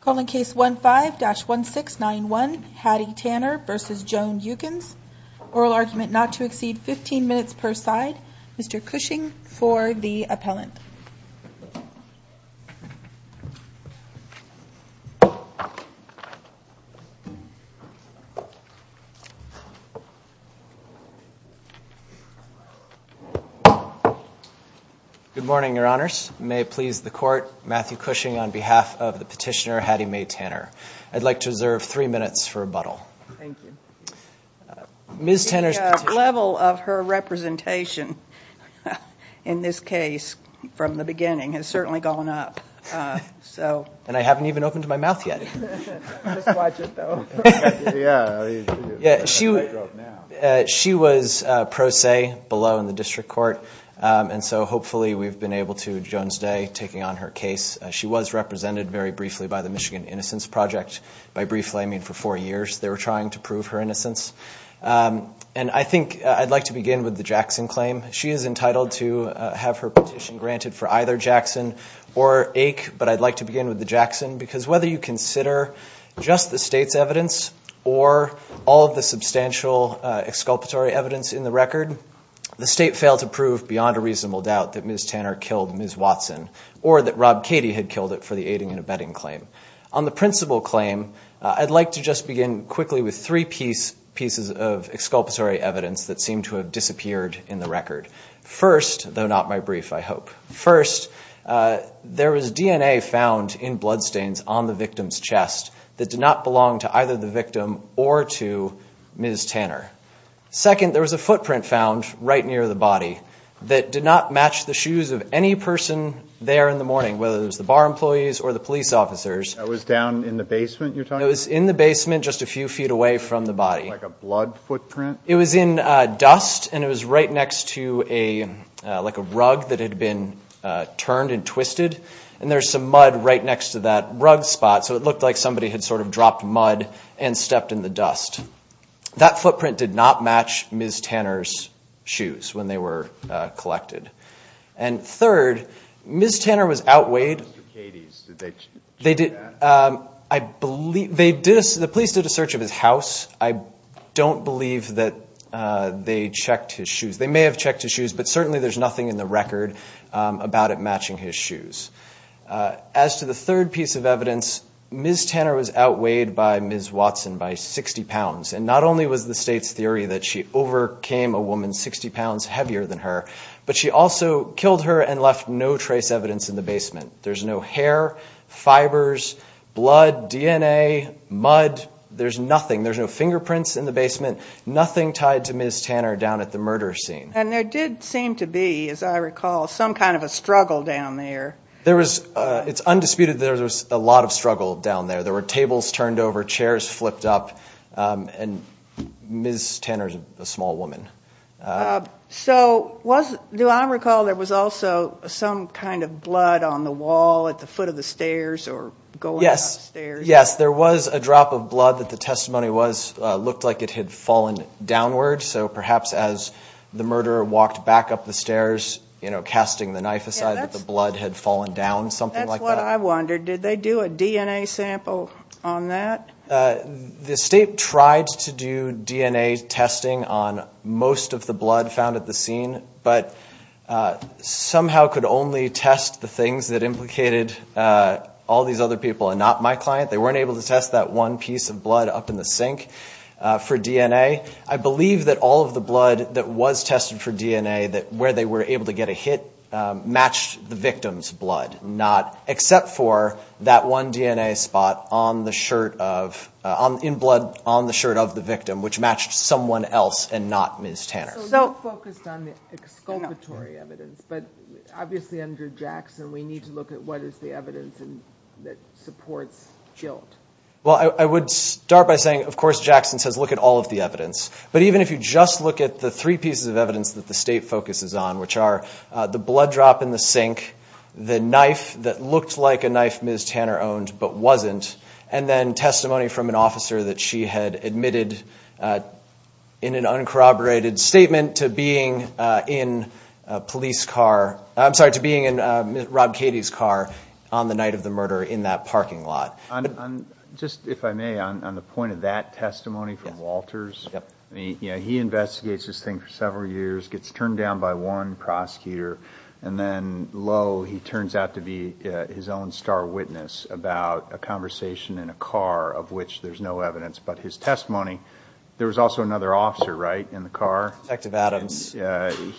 Calling case 15-1691, Hattie Tanner v. Joan Yukins. Oral argument not to exceed 15 minutes per side. Mr. Cushing for the appellant. Good morning, your honors. May it please the court, Matthew Cushing on behalf of the petitioner, Hattie Mae Tanner. I'd like to reserve three minutes for rebuttal. Thank you. Ms. Tanner's petition... The level of her representation in this case from the beginning has certainly gone up, so... And I haven't even opened my mouth yet. Just watch it, though. Yeah, she... She was pro se below in the district court. And so hopefully we've been able to... Joan's day, taking on her case. She was represented very briefly by the Michigan Innocence Project. By briefly, I mean for four years. They were trying to prove her innocence. And I think I'd like to begin with the Jackson claim. She is entitled to have her petition granted for either Jackson or Ake. But I'd like to begin with the Jackson. Because whether you consider just the state's evidence or all of the substantial exculpatory evidence in the record... The state failed to prove beyond a reasonable doubt that Ms. Tanner killed Ms. Watson. Or that Rob Cady had killed her for the aiding and abetting claim. On the principal claim, I'd like to just begin quickly with three pieces of exculpatory evidence that seem to have disappeared in the record. First, though not my brief, I hope. First, there was DNA found in bloodstains on the victim's chest that did not belong to either the victim or to Ms. Tanner. Second, there was a footprint found right near the body that did not match the shoes of any person there in the morning. Whether it was the bar employees or the police officers. That was down in the basement you're talking about? It was in the basement just a few feet away from the body. Like a blood footprint? It was in dust. And it was right next to like a rug that had been turned and twisted. And there's some mud right next to that rug spot. So it looked like somebody had sort of dropped mud and stepped in the dust. That footprint did not match Ms. Tanner's shoes when they were collected. And third, Ms. Tanner was outweighed. Mr. Cady's, did they check that? The police did a search of his house. I don't believe that they checked his shoes. They may have checked his shoes, but certainly there's nothing in the record about it matching his shoes. As to the third piece of evidence, Ms. Tanner was outweighed by Ms. Watson by 60 pounds. And not only was the state's theory that she overcame a woman 60 pounds heavier than her, but she also killed her and left no trace evidence in the basement. There's no hair, fibers, blood, DNA, mud. There's nothing. There's no fingerprints in the basement. Nothing tied to Ms. Tanner down at the murder scene. And there did seem to be, as I recall, some kind of a struggle down there. It's undisputed there was a lot of struggle down there. There were tables turned over, chairs flipped up, and Ms. Tanner's a small woman. So do I recall there was also some kind of blood on the wall at the foot of the stairs or going up the stairs? Yes, there was a drop of blood that the testimony looked like it had fallen downward. So perhaps as the murderer walked back up the stairs, you know, casting the knife aside that the blood had fallen down, something like that. That's what I wondered. Did they do a DNA sample on that? The state tried to do DNA testing on most of the blood found at the scene, but somehow could only test the things that implicated all these other people and not my client. They weren't able to test that one piece of blood up in the sink for DNA. I believe that all of the blood that was tested for DNA where they were able to get a hit matched the victim's blood, except for that one DNA spot in blood on the shirt of the victim, which matched someone else and not Ms. Tanner. So you focused on the exculpatory evidence. But obviously under Jackson we need to look at what is the evidence that supports guilt. Well, I would start by saying, of course, Jackson says, look at all of the evidence. But even if you just look at the three pieces of evidence that the state focuses on, which are the blood drop in the sink, the knife that looked like a knife Ms. Tanner owned but wasn't, and then testimony from an officer that she had admitted in an uncorroborated statement to being in a police car. I'm sorry, to being in Rob Katie's car on the night of the murder in that parking lot. Just if I may, on the point of that testimony from Walters, he investigates this thing for several years, gets turned down by one prosecutor, and then lo, he turns out to be his own star witness about a conversation in a car of which there's no evidence. But his testimony, there was also another officer, right, in the car?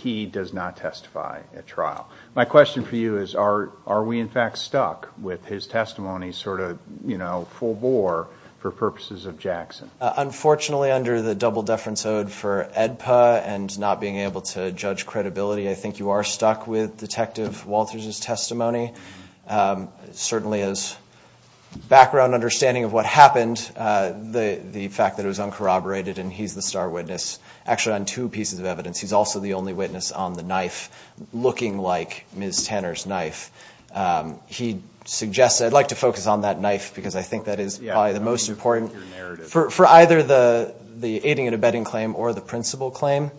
He does not testify at trial. My question for you is, are we in fact stuck with his testimony sort of, you know, full bore for purposes of Jackson? Unfortunately, under the double-deference ode for AEDPA and not being able to judge credibility, I think you are stuck with Detective Walters' testimony. Certainly, as background understanding of what happened, the fact that it was uncorroborated and he's the star witness. Actually, on two pieces of evidence, he's also the only witness on the knife looking like Ms. Tanner's knife. He suggested, I'd like to focus on that knife because I think that is probably the most important. For either the aiding and abetting claim or the principal claim,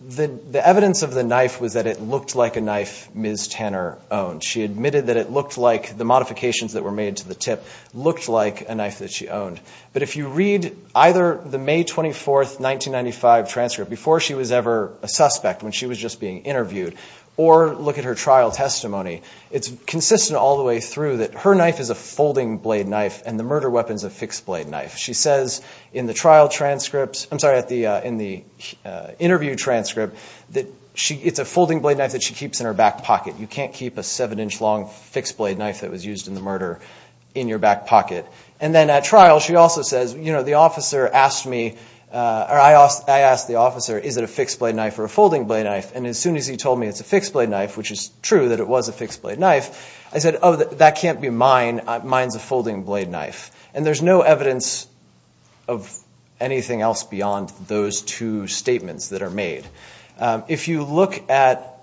the evidence of the knife was that it looked like a knife Ms. Tanner owned. She admitted that it looked like, the modifications that were made to the tip looked like a knife that she owned. But if you read either the May 24, 1995 transcript, before she was ever a suspect, when she was just being interviewed, or look at her trial testimony, it's consistent all the way through that her knife is a folding blade knife and the murder weapon is a fixed blade knife. She says in the interview transcript that it's a folding blade knife that she keeps in her back pocket. You can't keep a seven-inch long fixed blade knife that was used in the murder in your back pocket. And then at trial, she also says, you know, the officer asked me, or I asked the officer, is it a fixed blade knife or a folding blade knife? And as soon as he told me it's a fixed blade knife, which is true that it was a fixed blade knife, I said, oh, that can't be mine. Mine's a folding blade knife. And there's no evidence of anything else beyond those two statements that are made. If you look at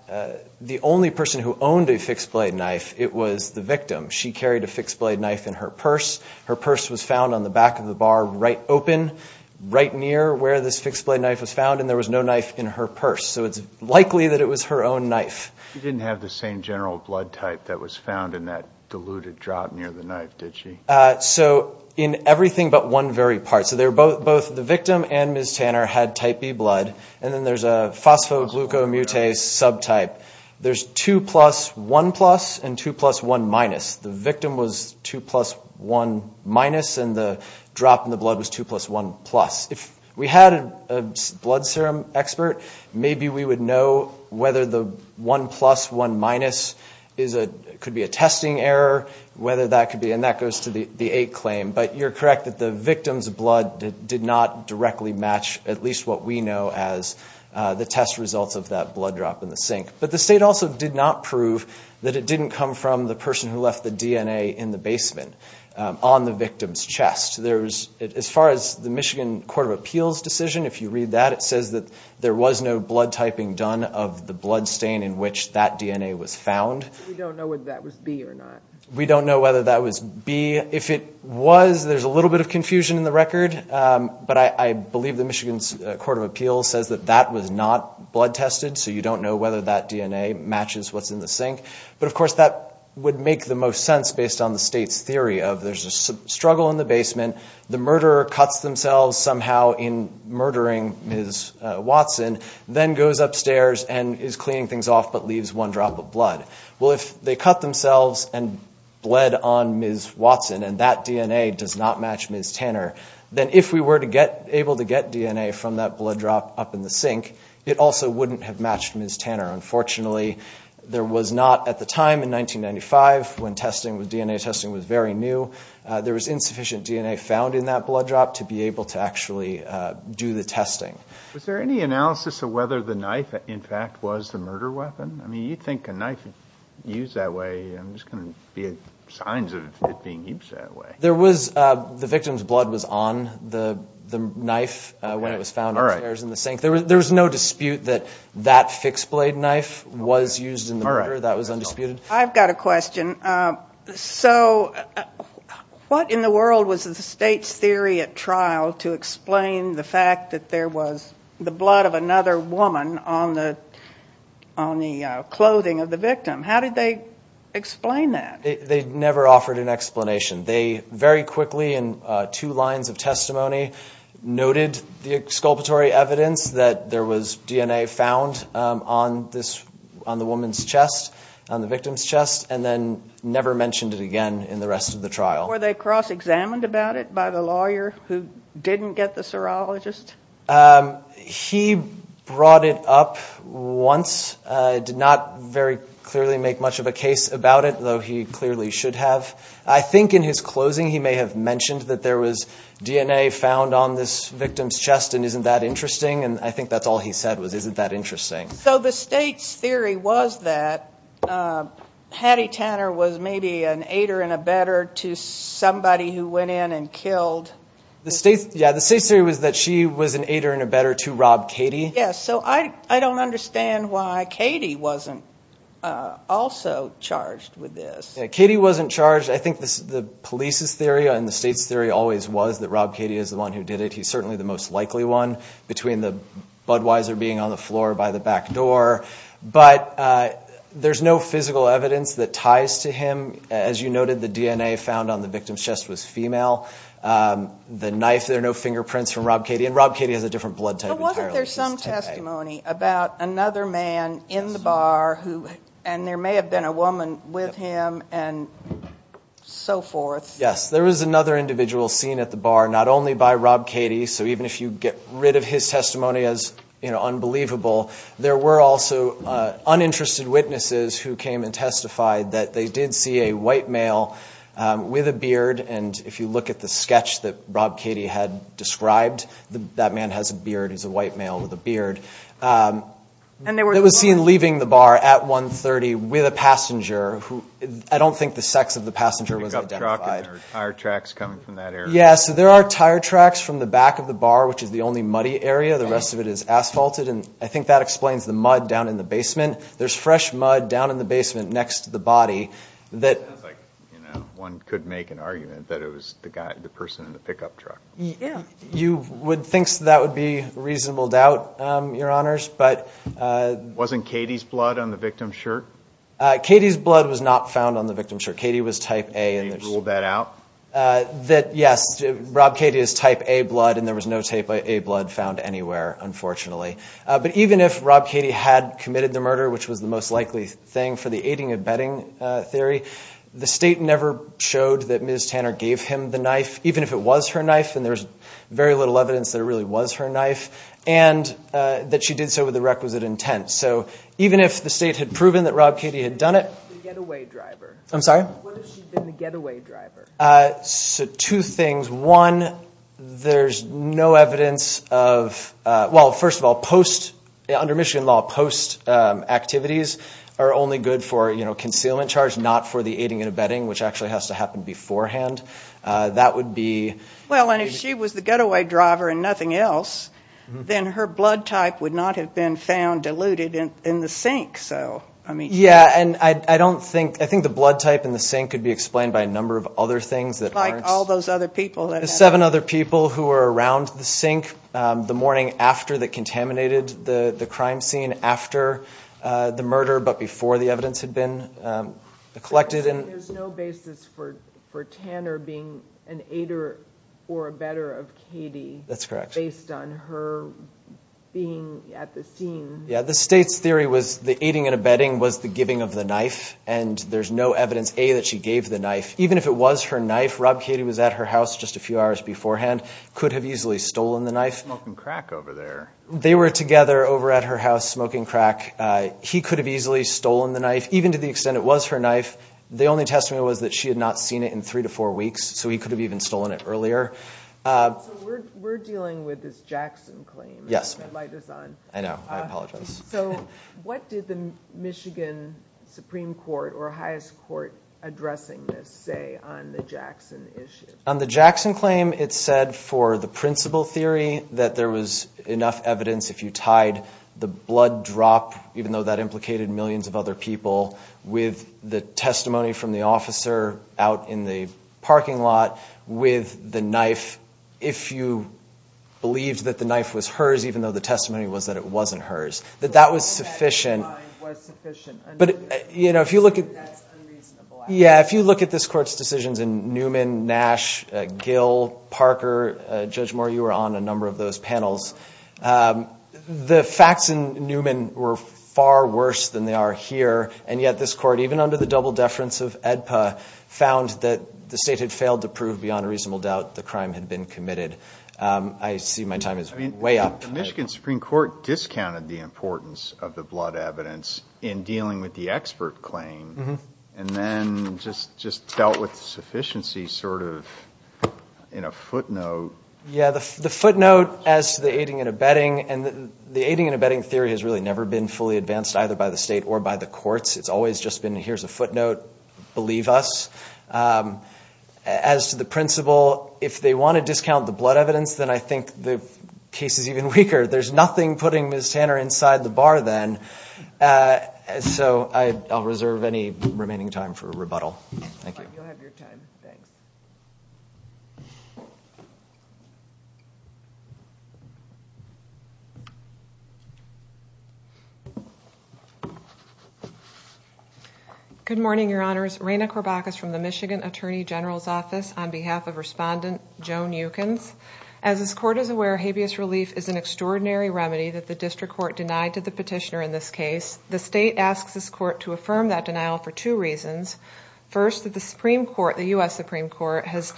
the only person who owned a fixed blade knife, it was the victim. She carried a fixed blade knife in her purse. Her purse was found on the back of the bar right open, right near where this fixed blade knife was found, and there was no knife in her purse. So it's likely that it was her own knife. You didn't have the same general blood type that was found in that diluted drop near the knife, did you? So in everything but one very part. So both the victim and Ms. Tanner had Type B blood, and then there's a phosphoglucomutase subtype. There's 2 plus 1 plus and 2 plus 1 minus. The victim was 2 plus 1 minus, and the drop in the blood was 2 plus 1 plus. If we had a blood serum expert, maybe we would know whether the 1 plus 1 minus could be a testing error, whether that could be, and that goes to the 8 claim. But you're correct that the victim's blood did not directly match at least what we know as the test results of that blood drop in the sink. But the state also did not prove that it didn't come from the person who left the DNA in the basement on the victim's chest. As far as the Michigan Court of Appeals decision, if you read that, it says that there was no blood typing done of the blood stain in which that DNA was found. We don't know whether that was B or not. We don't know whether that was B. If it was, there's a little bit of confusion in the record, but I believe the Michigan Court of Appeals says that that was not blood tested, so you don't know whether that DNA matches what's in the sink. But, of course, that would make the most sense based on the state's theory of there's a struggle in the basement, the murderer cuts themselves somehow in murdering Ms. Watson, then goes upstairs and is cleaning things off but leaves one drop of blood. Well, if they cut themselves and bled on Ms. Watson and that DNA does not match Ms. Tanner, then if we were able to get DNA from that blood drop up in the sink, it also wouldn't have matched Ms. Tanner. Unfortunately, there was not at the time in 1995 when DNA testing was very new, there was insufficient DNA found in that blood drop to be able to actually do the testing. Was there any analysis of whether the knife, in fact, was the murder weapon? I mean, you'd think a knife used that way, there's going to be signs of it being used that way. There was, the victim's blood was on the knife when it was found upstairs in the sink. There was no dispute that that fixed blade knife was used in the murder. That was undisputed. I've got a question. So what in the world was the state's theory at trial to explain the fact that there was the blood of another woman on the clothing of the victim? How did they explain that? They never offered an explanation. They very quickly in two lines of testimony noted the exculpatory evidence that there was DNA found on the woman's chest, on the victim's chest, and then never mentioned it again in the rest of the trial. Were they cross-examined about it by the lawyer who didn't get the serologist? He brought it up once, did not very clearly make much of a case about it, though he clearly should have. I think in his closing he may have mentioned that there was DNA found on this victim's chest and isn't that interesting, and I think that's all he said was isn't that interesting. So the state's theory was that Hattie Tanner was maybe an aider and abetter to somebody who went in and killed. Yeah, the state's theory was that she was an aider and abetter to Rob Cady. Yes, so I don't understand why Cady wasn't also charged with this. Yeah, Cady wasn't charged. I think the police's theory and the state's theory always was that Rob Cady is the one who did it. He's certainly the most likely one between the Budweiser being on the floor by the back door. But there's no physical evidence that ties to him. As you noted, the DNA found on the victim's chest was female. The knife, there are no fingerprints from Rob Cady, and Rob Cady has a different blood type entirely. But wasn't there some testimony about another man in the bar, and there may have been a woman with him and so forth? Yes, there was another individual seen at the bar, not only by Rob Cady, so even if you get rid of his testimony as unbelievable, there were also uninterested witnesses who came and testified that they did see a white male with a beard. And if you look at the sketch that Rob Cady had described, that man has a beard. He's a white male with a beard. It was seen leaving the bar at 1.30 with a passenger. I don't think the sex of the passenger was identified. A pickup truck or tire tracks coming from that area? Yeah, so there are tire tracks from the back of the bar, which is the only muddy area. The rest of it is asphalted, and I think that explains the mud down in the basement. There's fresh mud down in the basement next to the body. It sounds like one could make an argument that it was the person in the pickup truck. You would think that would be reasonable doubt, Your Honors. Wasn't Cady's blood on the victim's shirt? Cady's blood was not found on the victim's shirt. Cady was type A. Can you rule that out? Yes, Rob Cady is type A blood, and there was no type A blood found anywhere, unfortunately. But even if Rob Cady had committed the murder, which was the most likely thing for the aiding and abetting theory, the State never showed that Ms. Tanner gave him the knife, even if it was her knife, and there's very little evidence that it really was her knife, and that she did so with a requisite intent. So even if the State had proven that Rob Cady had done it— The getaway driver. I'm sorry? What if she had been the getaway driver? Two things. One, there's no evidence of—well, first of all, under Michigan law, post activities are only good for concealment charge, not for the aiding and abetting, which actually has to happen beforehand. That would be— Well, and if she was the getaway driver and nothing else, then her blood type would not have been found diluted in the sink. Yeah, and I don't think—I think the blood type in the sink could be explained by a number of other things that aren't— Like all those other people that— The seven other people who were around the sink the morning after that contaminated the crime scene after the murder but before the evidence had been collected. There's no basis for Tanner being an aider or abetter of Cady— That's correct. —based on her being at the scene. Yeah, the state's theory was the aiding and abetting was the giving of the knife, and there's no evidence, A, that she gave the knife. Even if it was her knife, Rob Cady was at her house just a few hours beforehand, could have easily stolen the knife. Smoking crack over there. They were together over at her house smoking crack. He could have easily stolen the knife, even to the extent it was her knife. The only testimony was that she had not seen it in three to four weeks, so he could have even stolen it earlier. So we're dealing with this Jackson claim. Yes. I know. I apologize. So what did the Michigan Supreme Court or highest court addressing this say on the Jackson issue? On the Jackson claim, it said for the principal theory that there was enough evidence if you tied the blood drop, even though that implicated millions of other people, with the testimony from the officer out in the parking lot with the knife, if you believed that the knife was hers, even though the testimony was that it wasn't hers, that that was sufficient. But, you know, if you look at this court's decisions in Newman, Nash, Gill, Parker, Judge Moore, you were on a number of those panels. The facts in Newman were far worse than they are here, and yet this court, even under the double deference of AEDPA, found that the state had failed to prove beyond a reasonable doubt the crime had been committed. I see my time is way up. The Michigan Supreme Court discounted the importance of the blood evidence in dealing with the expert claim and then just dealt with sufficiency sort of in a footnote. Yeah, the footnote as to the aiding and abetting, and the aiding and abetting theory has really never been fully advanced either by the state or by the courts. It's always just been, here's a footnote, believe us. As to the principle, if they want to discount the blood evidence, then I think the case is even weaker. There's nothing putting Ms. Tanner inside the bar then. So I'll reserve any remaining time for rebuttal. Thank you. You'll have your time. Thanks. Good morning, Your Honors. Raina Corbachus from the Michigan Attorney General's Office on behalf of Respondent Joan Yukins. As this court is aware, habeas relief is an extraordinary remedy that the district court denied to the petitioner in this case. The state asks this court to affirm that denial for two reasons. First, that the Supreme Court, the U.S. Supreme Court, has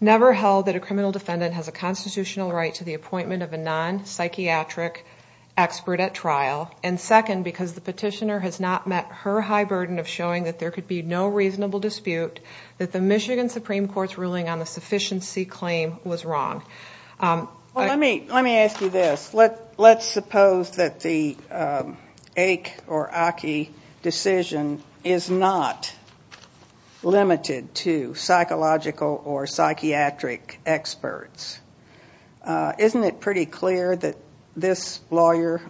never held that a criminal defendant has a constitutional right to the appointment of a non-psychiatric expert at trial. And second, because the petitioner has not met her high burden of showing that there could be no reasonable dispute, that the Michigan Supreme Court's ruling on the sufficiency claim was wrong. Well, let me ask you this. Let's suppose that the Aik or Aki decision is not limited to psychological or psychiatric experts. Isn't it pretty clear that this lawyer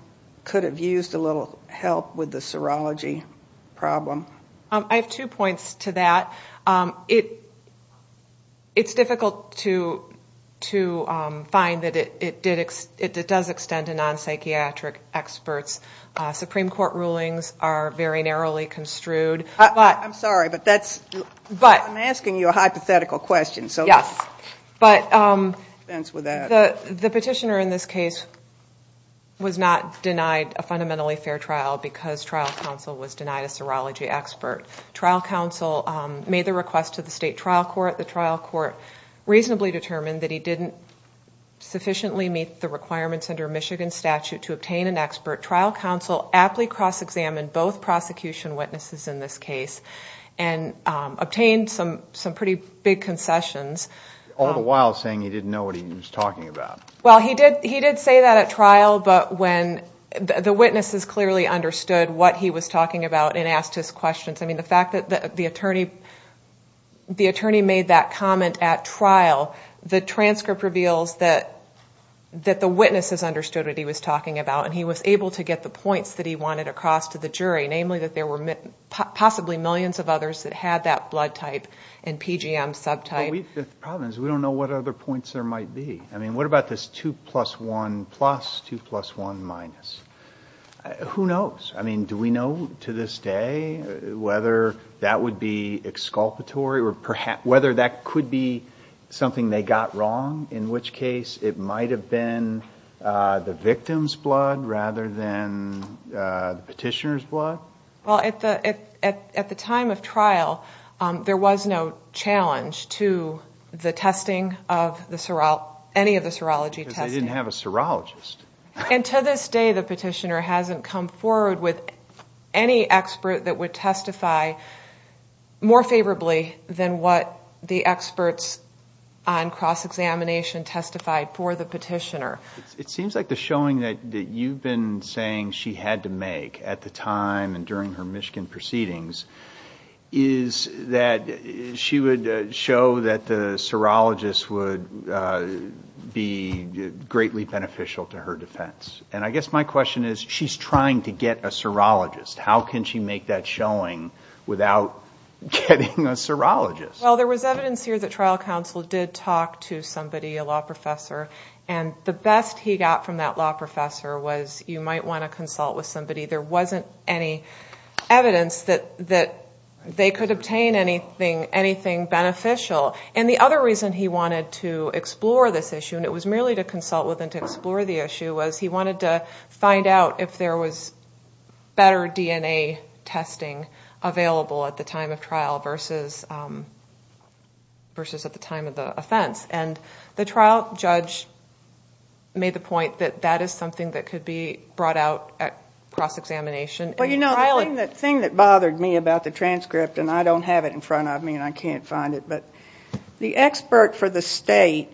could have used a little help with the serology problem? I have two points to that. It's difficult to find that it does extend to non-psychiatric experts. Supreme Court rulings are very narrowly construed. I'm sorry, but I'm asking you a hypothetical question. Yes, but the petitioner in this case was not denied a fundamentally fair trial because trial counsel was denied a serology expert. Trial counsel made the request to the state trial court. The trial court reasonably determined that he didn't sufficiently meet the requirements under Michigan statute to obtain an expert. Trial counsel aptly cross-examined both prosecution witnesses in this case and obtained some pretty big concessions. All the while saying he didn't know what he was talking about. Well, he did say that at trial, but when the witnesses clearly understood what he was talking about and asked his questions, the fact that the attorney made that comment at trial, the transcript reveals that the witnesses understood what he was talking about and he was able to get the points that he wanted across to the jury, namely that there were possibly millions of others that had that blood type and PGM subtype. The problem is we don't know what other points there might be. What about this 2 plus 1 plus, 2 plus 1 minus? Who knows? I mean, do we know to this day whether that would be exculpatory or whether that could be something they got wrong, in which case it might have been the victim's blood rather than the petitioner's blood? Well, at the time of trial, there was no challenge to the testing of any of the serology testing. Because they didn't have a serologist. And to this day, the petitioner hasn't come forward with any expert that would testify more favorably than what the experts on cross-examination testified for the petitioner. It seems like the showing that you've been saying she had to make at the time and during her Michigan proceedings is that she would show that the serologist would be greatly beneficial to her defense. And I guess my question is, she's trying to get a serologist. How can she make that showing without getting a serologist? Well, there was evidence here that trial counsel did talk to somebody, a law professor, and the best he got from that law professor was you might want to consult with somebody. There wasn't any evidence that they could obtain anything beneficial. And the other reason he wanted to explore this issue, and it was merely to consult with and to explore the issue, was he wanted to find out if there was better DNA testing available at the time of trial versus at the time of the offense. And the trial judge made the point that that is something that could be brought out at cross-examination. Well, you know, the thing that bothered me about the transcript, and I don't have it in front of me and I can't find it, but the expert for the state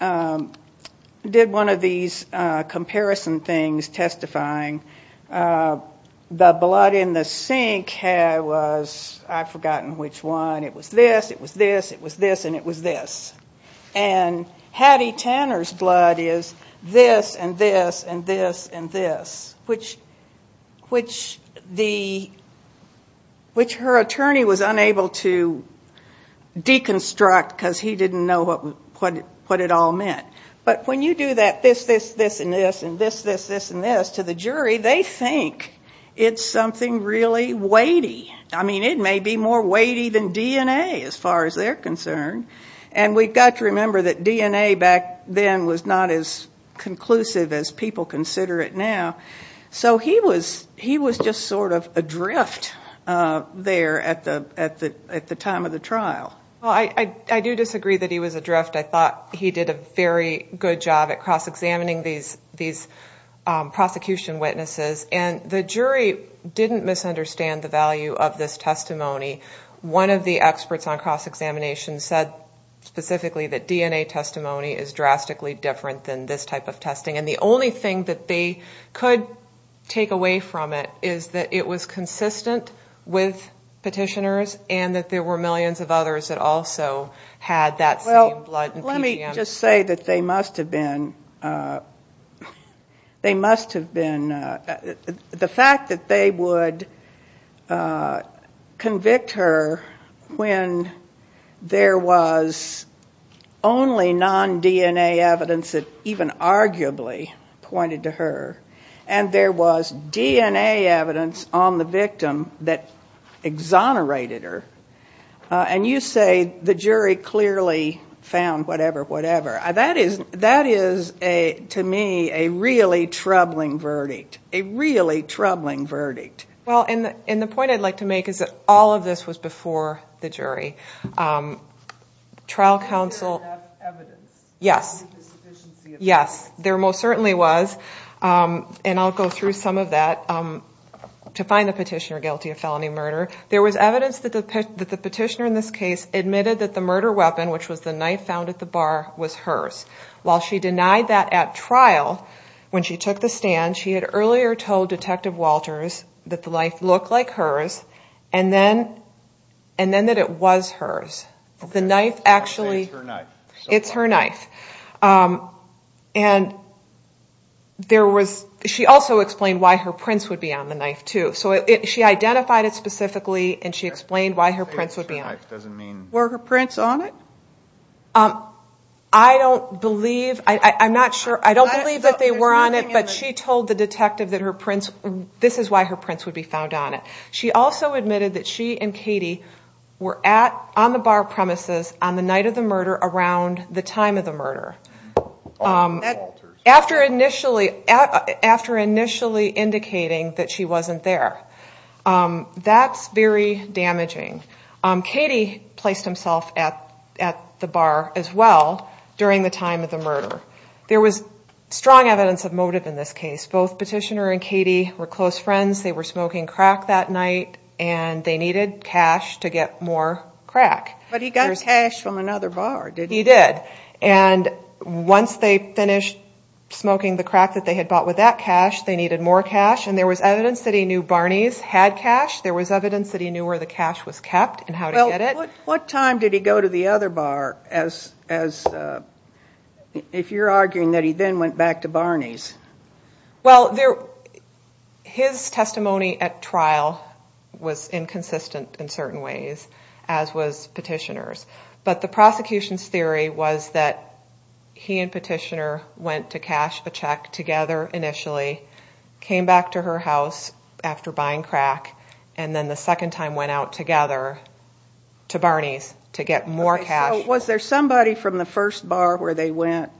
did one of these comparison things testifying the blood in the sink was, I've forgotten which one, it was this, it was this, it was this, and it was this. And Hattie Tanner's blood is this and this and this and this, which her attorney was unable to deconstruct because he didn't know what it all meant. But when you do that this, this, this, and this, and this, this, this, and this to the jury, they think it's something really weighty. I mean, it may be more weighty than DNA as far as they're concerned. And we've got to remember that DNA back then was not as conclusive as people consider it now. So he was just sort of adrift there at the time of the trial. Well, I do disagree that he was adrift. I thought he did a very good job at cross-examining these prosecution witnesses. And the jury didn't misunderstand the value of this testimony. One of the experts on cross-examination said specifically that DNA testimony is drastically different than this type of testing. And the only thing that they could take away from it is that it was consistent with petitioners and that there were millions of others that also had that same blood and PGM. Let me just say that they must have been the fact that they would convict her when there was only non-DNA evidence that even arguably pointed to her and there was DNA evidence on the victim that exonerated her. And you say the jury clearly found whatever, whatever. That is, to me, a really troubling verdict. A really troubling verdict. Well, and the point I'd like to make is that all of this was before the jury. Trial counsel... Yes. Yes. There most certainly was, and I'll go through some of that, to find the petitioner guilty of felony murder. There was evidence that the petitioner in this case admitted that the murder weapon, which was the knife found at the bar, was hers. While she denied that at trial when she took the stand, she had earlier told Detective Walters that the knife looked like hers and then that it was hers. The knife actually... It's her knife. It's her knife. And there was... She also explained why her prints would be on the knife, too. So she identified it specifically, and she explained why her prints would be on it. Were her prints on it? I don't believe. I'm not sure. I don't believe that they were on it, but she told the detective that her prints, this is why her prints would be found on it. She also admitted that she and Katie were on the bar premises on the night of the murder around the time of the murder. After initially indicating that she wasn't there. That's very damaging. Katie placed himself at the bar as well during the time of the murder. There was strong evidence of motive in this case. Both Petitioner and Katie were close friends. They were smoking crack that night, and they needed cash to get more crack. But he got cash from another bar, didn't he? He did. And once they finished smoking the crack that they had bought with that cash, they needed more cash, and there was evidence that he knew Barney's had cash. There was evidence that he knew where the cash was kept and how to get it. Well, what time did he go to the other bar? If you're arguing that he then went back to Barney's. Well, his testimony at trial was inconsistent in certain ways, as was Petitioner's. But the prosecution's theory was that he and Petitioner went to cash a check together initially, came back to her house after buying crack, and then the second time went out together to Barney's to get more cash. Was there somebody from the first bar where they went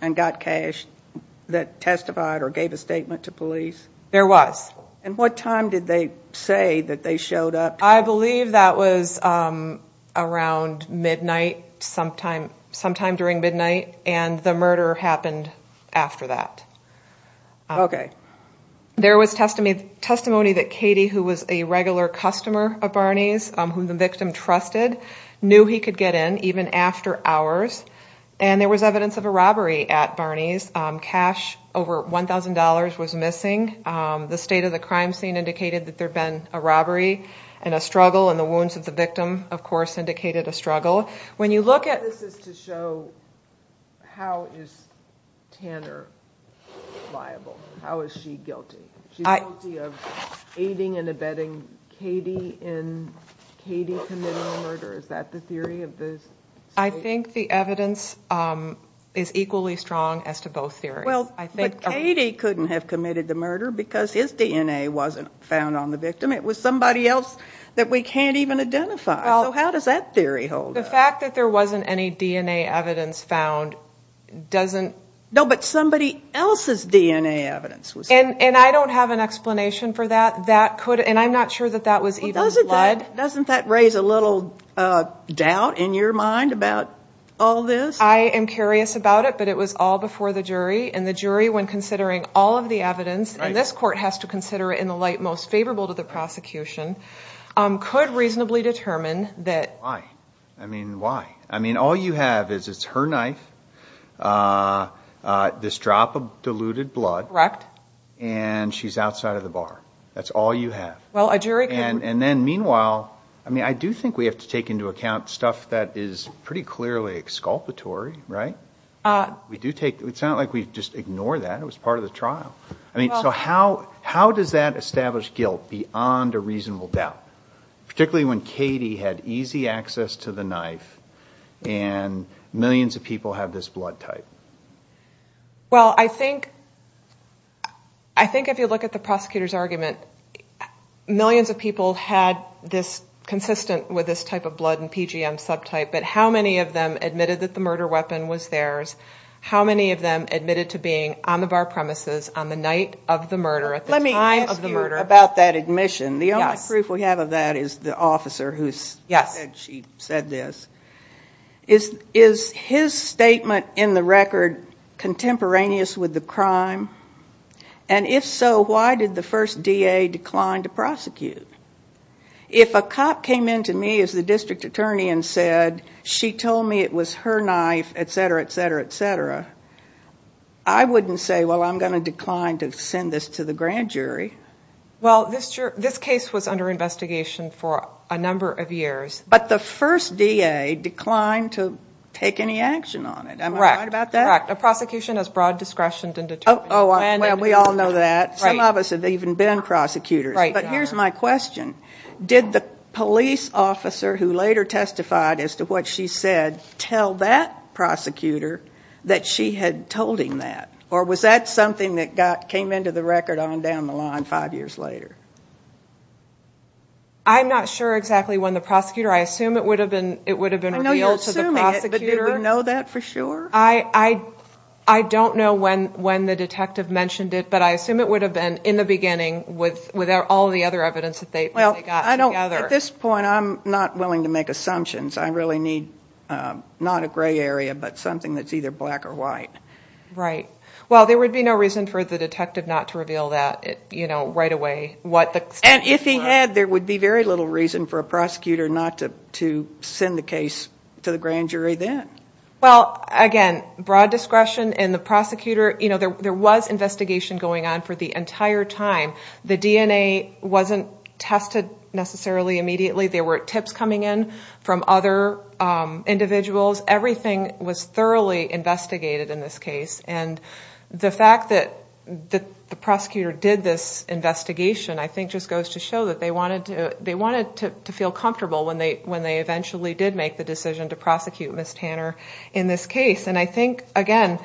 and got cash that testified or gave a statement to police? There was. And what time did they say that they showed up? I believe that was around midnight, sometime during midnight, and the murder happened after that. Okay. There was testimony that Katie, who was a regular customer of Barney's, whom the victim trusted, knew he could get in even after hours, and there was evidence of a robbery at Barney's. Cash over $1,000 was missing. The state of the crime scene indicated that there had been a robbery and a struggle, and the wounds of the victim, of course, indicated a struggle. What this is to show, how is Tanner liable? How is she guilty? She's guilty of aiding and abetting Katie in Katie committing the murder. Is that the theory of this? I think the evidence is equally strong as to both theories. Well, but Katie couldn't have committed the murder because his DNA wasn't found on the victim. It was somebody else that we can't even identify. So how does that theory hold up? The fact that there wasn't any DNA evidence found doesn't ---- No, but somebody else's DNA evidence was found. And I don't have an explanation for that. And I'm not sure that that was even blood. Doesn't that raise a little doubt in your mind about all this? I am curious about it, but it was all before the jury, and the jury, when considering all of the evidence, and this court has to consider it in the light most favorable to the prosecution, could reasonably determine that ---- Why? I mean, why? I mean, all you have is it's her knife, this drop of diluted blood, Correct. and she's outside of the bar. That's all you have. Well, a jury could ---- I do think we have to take into account stuff that is pretty clearly exculpatory, right? It's not like we just ignore that. It was part of the trial. So how does that establish guilt beyond a reasonable doubt, particularly when Katie had easy access to the knife and millions of people have this blood type? Well, I think if you look at the prosecutor's argument, millions of people had this consistent with this type of blood and PGM subtype, but how many of them admitted that the murder weapon was theirs? How many of them admitted to being on the bar premises on the night of the murder, at the time of the murder? Let me ask you about that admission. The only proof we have of that is the officer who said this. Is his statement in the record contemporaneous with the crime? And if so, why did the first DA decline to prosecute? If a cop came in to me as the district attorney and said, she told me it was her knife, et cetera, et cetera, et cetera, I wouldn't say, well, I'm going to decline to send this to the grand jury. Well, this case was under investigation for a number of years. But the first DA declined to take any action on it. Am I right about that? Correct. A prosecution has broad discretion to determine. Oh, well, we all know that. Some of us have even been prosecutors. But here's my question. Did the police officer who later testified as to what she said tell that prosecutor that she had told him that? Or was that something that came into the record on down the line five years later? I'm not sure exactly when the prosecutor. I assume it would have been revealed to the prosecutor. I know you're assuming it, but did you know that for sure? I don't know when the detective mentioned it, but I assume it would have been in the beginning with all the other evidence that they got together. At this point, I'm not willing to make assumptions. I really need not a gray area, but something that's either black or white. Right. Well, there would be no reason for the detective not to reveal that right away. And if he had, there would be very little reason for a prosecutor not to send the case to the grand jury then. Well, again, broad discretion in the prosecutor. You know, there was investigation going on for the entire time. The DNA wasn't tested necessarily immediately. There were tips coming in from other individuals. Everything was thoroughly investigated in this case. And the fact that the prosecutor did this investigation, I think just goes to show that they wanted to feel comfortable when they eventually did make the decision to prosecute Ms. Tanner in this case. And I think, again,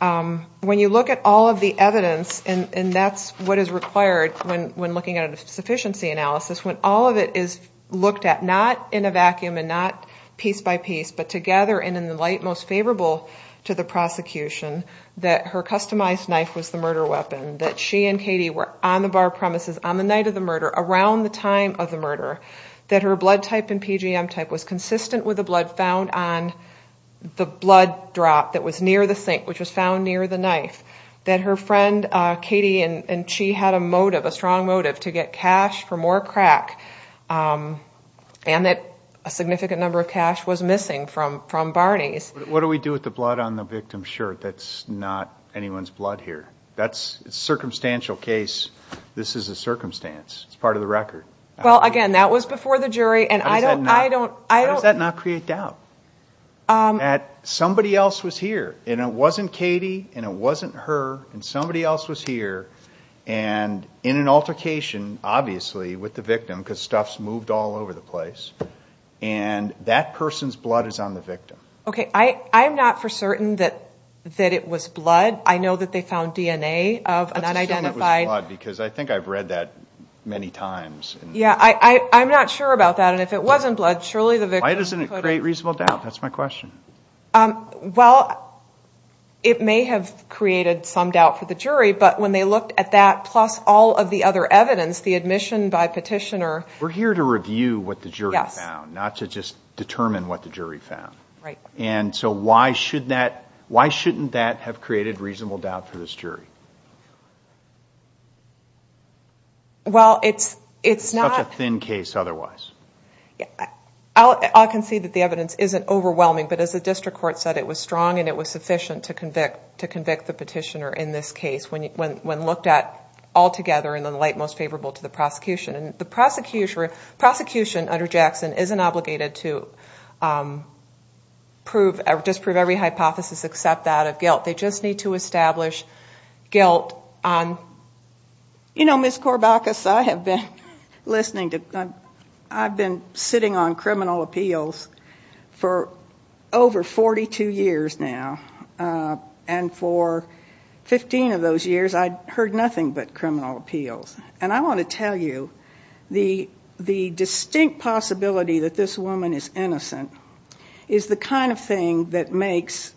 when you look at all of the evidence, and that's what is required when looking at a sufficiency analysis, when all of it is looked at not in a vacuum and not piece by piece, but together and in the light most favorable to the prosecution, that her customized knife was the murder weapon, that she and Katie were on the bar premises on the night of the murder, around the time of the murder, that her blood type and PGM type was consistent with the blood found on the blood drop that was near the sink, which was found near the knife, that her friend Katie and she had a motive, a strong motive to get cash for more crack, and that a significant number of cash was missing from Barney's. What do we do with the blood on the victim's shirt? That's not anyone's blood here. That's a circumstantial case. This is a circumstance. It's part of the record. Well, again, that was before the jury and I don't, I don't, I don't, does that not create doubt? Um, at somebody else was here and it wasn't Katie and it wasn't her and somebody else was here and in an altercation, obviously with the victim, because stuff's moved all over the place and that person's blood is on the victim. I, I'm not for certain that, that it was blood. I know that they found DNA of an unidentified. Because I think I've read that many times. Yeah. I, I'm not sure about that. And if it wasn't blood, surely the victim. Why doesn't it create reasonable doubt? That's my question. Um, well, it may have created some doubt for the jury, but when they looked at that, plus all of the other evidence, the admission by petitioner, we're here to review what the jury found, not to just determine what the jury found. Right. And so why should that, why shouldn't that have created reasonable doubt for this jury? Well, it's, it's not a thin case. Otherwise. Yeah. I'll, I can see that the evidence isn't overwhelming, but as a district court said, it was strong and it was sufficient to convict, to convict the petitioner. In this case, when you, when, when looked at all together in the light, most favorable to the prosecution and the prosecution, prosecution under Jackson, isn't obligated to, um, prove, or just prove every hypothesis except that of guilt. They just need to establish, guilt. Um, you know, Ms. Corbacus, I have been listening to, um, I've been sitting on criminal appeals for over 42 years now. Uh, and for 15 of those years, I heard nothing but criminal appeals. And I want to tell you the, the distinct possibility that this woman is innocent is the kind of thing that makes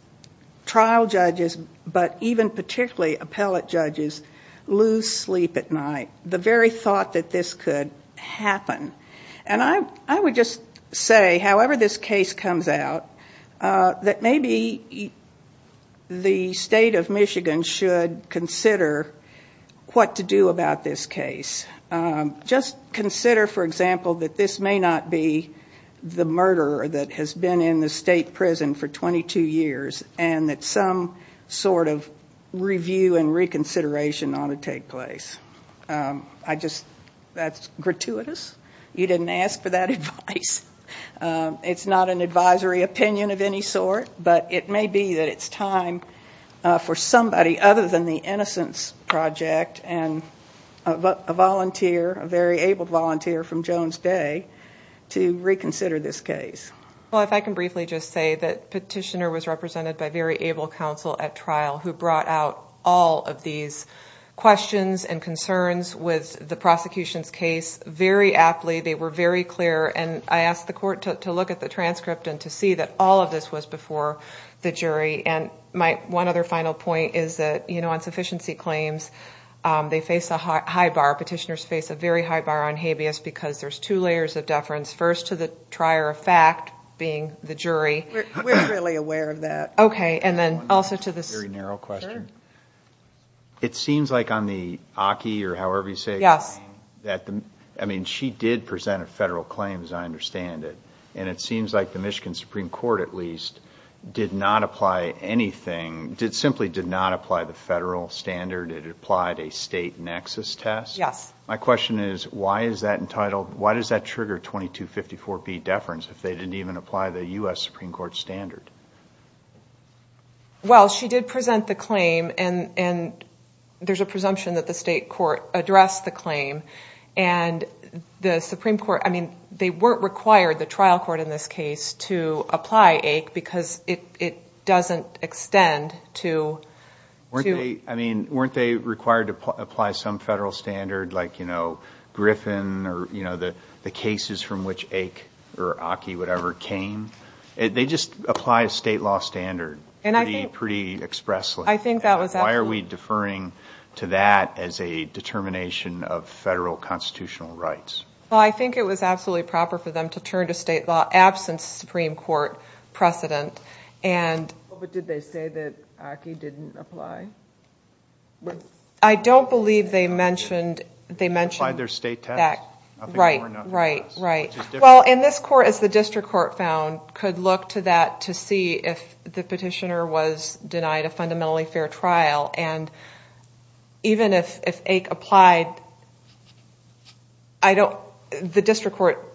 trial judges, but even particularly appellate judges, lose sleep at night. The very thought that this could happen. And I, I would just say, however this case comes out, uh, that maybe the state of Michigan should consider what to do about this case. Um, just consider, for example, that this may not be the murderer that has been in the state prison for 22 years, and that some sort of review and reconsideration ought to take place. Um, I just, that's gratuitous. You didn't ask for that advice. Um, it's not an advisory opinion of any sort, but it may be that it's time, uh, for somebody other than the Innocence Project and a volunteer, a very able volunteer from Jones Day to reconsider this case. Well, if I can briefly just say that petitioner was represented by very able counsel at trial who brought out all of these questions and concerns with the prosecution's case very aptly. They were very clear. And I asked the court to look at the transcript and to see that all of this was before the jury. And my one other final point is that, you know, insufficiency claims, um, they face a high bar. Petitioners face a very high bar on habeas because there's two layers of deference. First to the trier of fact being the jury. We're truly aware of that. Okay. And then also to this. Very narrow question. Sure. It seems like on the Aki or however you say it. Yes. That the, I mean, she did present a federal claim as I understand it. And it seems like the Michigan Supreme Court at least did not apply anything, did simply did not apply the federal standard. It applied a state nexus test. Yes. My question is why is that entitled? Why does that trigger 2254B deference if they didn't even apply the US Supreme Court standard? Well, she did present the claim and, and there's a presumption that the state court addressed the claim and the Supreme Court, I mean, they weren't required the trial court in this case to apply ache because it, it doesn't extend to. I mean, weren't they required to apply some federal standard, like, you know, Griffin or, you know, the, the cases from which ache or Aki, whatever came, they just apply a state law standard. And I think pretty expressly, I think that was, why are we deferring to that as a determination of federal constitutional rights? Well, I think it was absolutely proper for them to turn to state law absence Supreme Court precedent. And, but did they say that Aki didn't apply? I don't believe they mentioned, they mentioned their state tax. Right, right, right. Well, and this court is the district court found could look to that to see if the petitioner was denied a fundamentally fair trial. And even if, if ache applied, I don't, the district court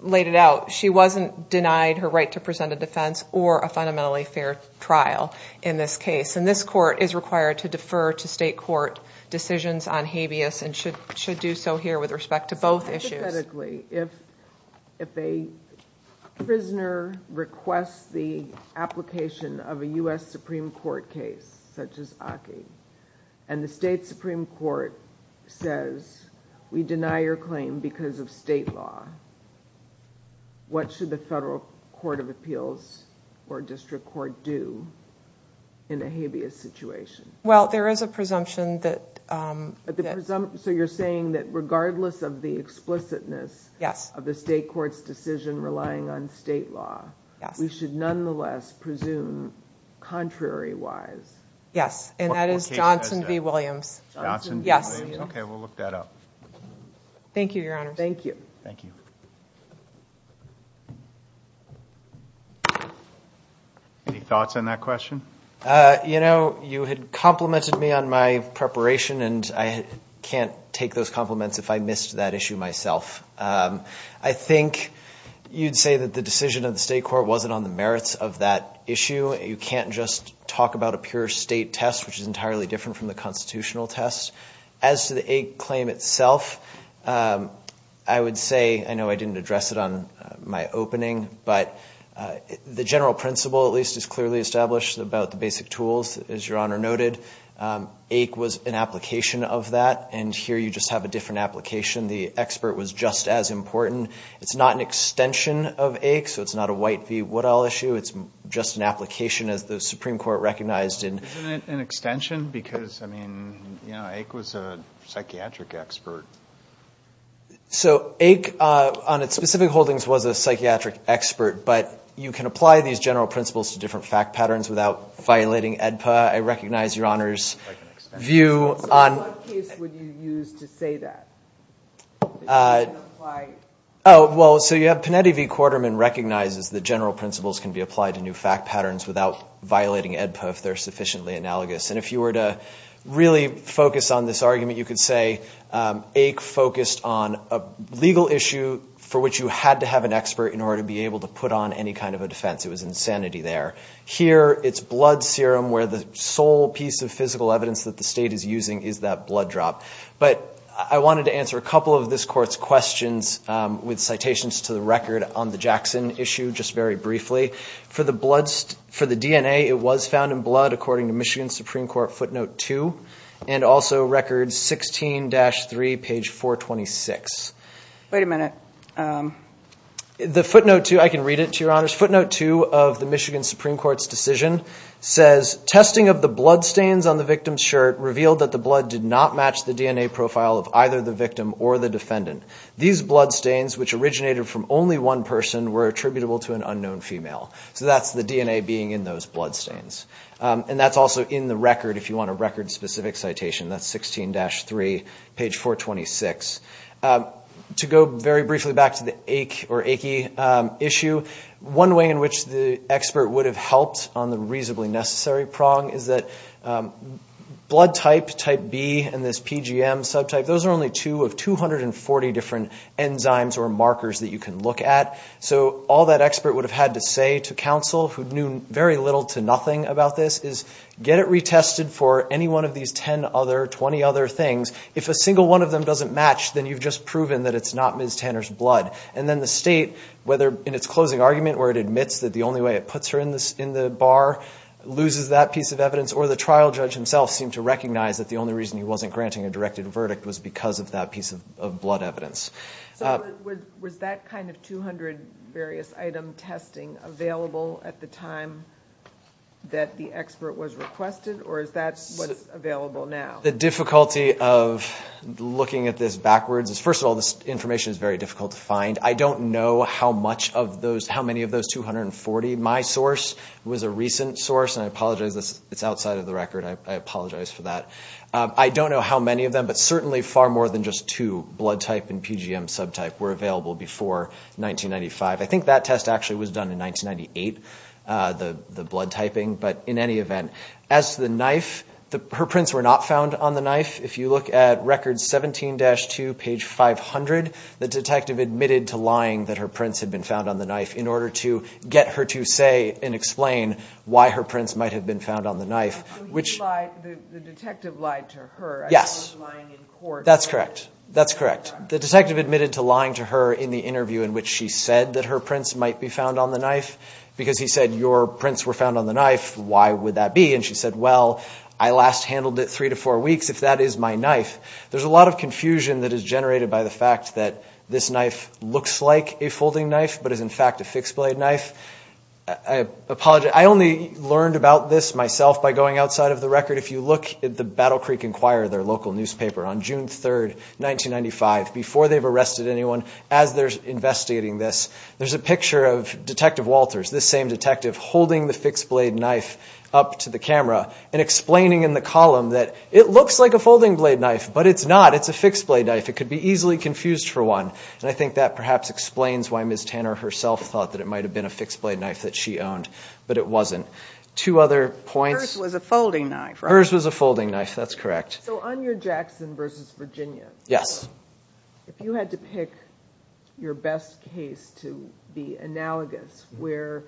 laid it out. She wasn't denied her right to present a defense or a fundamentally fair trial in this case. And this court is required to defer to state court decisions on habeas and should, should do so here with respect to both issues. If, if a prisoner requests the application of a us Supreme Court case, such as Aki and the state Supreme Court says, we deny your claim because of state law. What should the federal court of appeals or district court do? In a habeas situation? Well, there is a presumption that, um, so you're saying that regardless of the explicitness of the state court's decision, relying on state law, we should nonetheless presume contrary wise. Yes. And that is Johnson v. Williams. Johnson. Yes. Okay. We'll look that up. Thank you, your honor. Thank you. Thank you. Any thoughts on that question? Uh, you know, you had complimented me on my preparation and I can't take those compliments. If I missed that issue myself. Um, I think you'd say that the decision of the state court wasn't on the merits of that issue. You can't just talk about a pure state test, which is entirely different from the constitutional test as to the eight claim itself. Um, I would say, I know I didn't address it on my opening, but, uh, the general principle at least is clearly established about the basic tools. As your honor noted, um, ache was an application of that. And here you just have a different application. The expert was just as important. It's not an extension of ache, so it's not a white V. What I'll issue. It's just an application as the Supreme court recognized in an extension because I mean, you know, ache was a psychiatric expert. So ache, uh, on its specific holdings was a psychiatric expert, but you can apply these general principles to different fact patterns without violating Edpa. I recognize your honor's view on what case would you use to say that? Uh, why? Oh, well, so you have Pineda V. Quarterman recognizes the general principles can be applied to new fact patterns without violating Edpa if they're sufficiently analogous. And if you were to really focus on this argument, you could say, um, ache focused on a legal issue for which you had to have an expert in order to be able to put on any kind of a defense. It was insanity there here. It's blood serum where the sole piece of physical evidence that the state is using is that blood drop. But I wanted to answer a couple of this court's questions with citations to the record on the Jackson issue. Just very briefly for the blood, for the DNA, it was found in blood according to Michigan Supreme Court footnote two and also records 16 dash three page four 26. Wait a minute. Um, the footnote two, I can read it to your honors footnote two of the Michigan Supreme Court's decision says testing of the blood stains on the victim's shirt revealed that the blood did not match the DNA profile of either the victim or the defendant. These blood stains, which originated from only one person, were attributable to an unknown female. So that's the DNA being in those blood stains. And that's also in the record. If you want a record specific citation, that's 16 dash three page four 26. To go very briefly back to the ache or achy issue, one way in which the expert would have helped on the reasonably necessary prong is that blood type type B and this PGM subtype, those are only two of 240 different enzymes or markers that you can look at. So all that expert would have had to say to counsel who knew very little to nothing about this is get it retested for any one of these 10 other 20 other things. If a single one of them doesn't match, then you've just proven that it's not Miss Tanner's blood. And then the state, whether in its closing argument where it admits that the only way it puts her in this in the bar loses that piece of evidence or the trial judge himself seemed to recognize that the only reason he wasn't granting a directed verdict was because of that piece of blood evidence. So was that kind of 200 various item testing available at the time that the expert was requested? Or is that what is available now? The difficulty of looking at this backwards is first of all, this information is very difficult to find. I don't know how many of those 240. My source was a recent source and I apologize. It's outside of the record. I apologize for that. I don't know how many of them, but certainly far more than just two blood type and PGM subtype were available before 1995. I think that test actually was done in 1998, the blood typing. As the knife, her prints were not found on the knife. If you look at record 17-2 page 500, the detective admitted to lying that her prints had been found on the knife in order to get her to say and explain why her prints might have been found on the knife, which the detective lied to her. Yes, that's correct. That's correct. The detective admitted to lying to her in the interview in which she said that her prints might be found on the knife because he said, your prints were found on the knife. Why would that be? And she said, well, I last handled it three to four weeks. If that is my knife, there's a lot of confusion that is generated by the fact that this knife looks like a folding knife, but is in fact a fixed blade knife. I apologize. I only learned about this myself by going outside of the record. If you look at the Battle Creek Inquirer, their local newspaper, on June 3, 1995, before they've arrested anyone, as they're investigating this, there's a picture of Detective Walters, this same detective, holding the fixed blade knife up to the camera and explaining in the column that it looks like a folding blade knife, but it's not. It's a fixed blade knife. It could be easily confused for one, and I think that perhaps explains why Ms. Tanner herself thought that it might have been a fixed blade knife that she owned, but it wasn't. Two other points. Hers was a folding knife, right? Hers was a folding knife. That's correct. On your Jackson v. Virginia, if you had to pick your best case to be analogous, where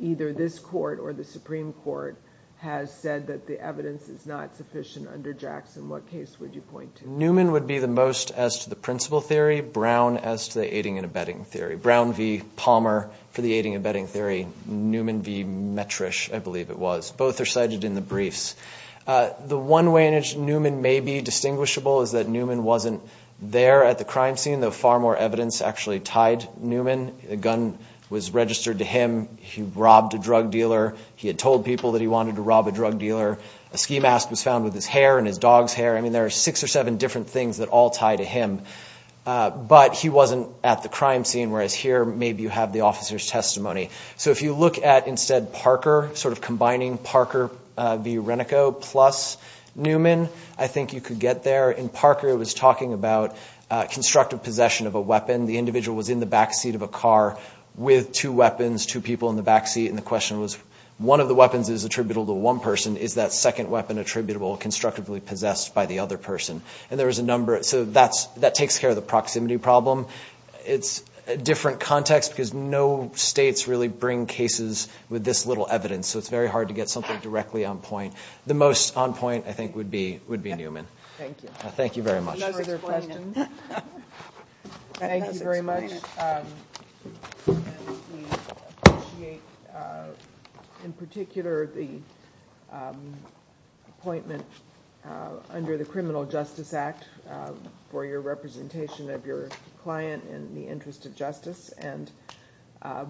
either this court or the Supreme Court has said that the evidence is not sufficient under Jackson, what case would you point to? Newman would be the most as to the principle theory, Brown as to the aiding and abetting theory. Brown v. Palmer for the aiding and abetting theory, Newman v. Metrish, I believe it was. Both are cited in the briefs. The one way in which Newman may be distinguishable is that Newman wasn't there at the crime scene, though far more evidence actually tied Newman. A gun was registered to him. He robbed a drug dealer. He had told people that he wanted to rob a drug dealer. A ski mask was found with his hair and his dog's hair. I mean, there are six or seven different things that all tie to him, whereas here maybe you have the officer's testimony. So if you look at instead Parker, sort of combining Parker v. Renico plus Newman, I think you could get there. In Parker it was talking about constructive possession of a weapon. The individual was in the backseat of a car with two weapons, two people in the backseat, and the question was, one of the weapons is attributable to one person. Is that second weapon attributable constructively possessed by the other person? And there was a number. So that takes care of the proximity problem. It's a different context because no states really bring cases with this little evidence. So it's very hard to get something directly on point. The most on point, I think, would be Newman. Thank you. Thank you very much. Any further questions? Thank you very much. We appreciate, in particular, the appointment under the Criminal Justice Act for your representation of your client in the interest of justice. And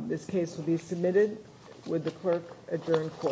this case will be submitted. Would the clerk adjourn court?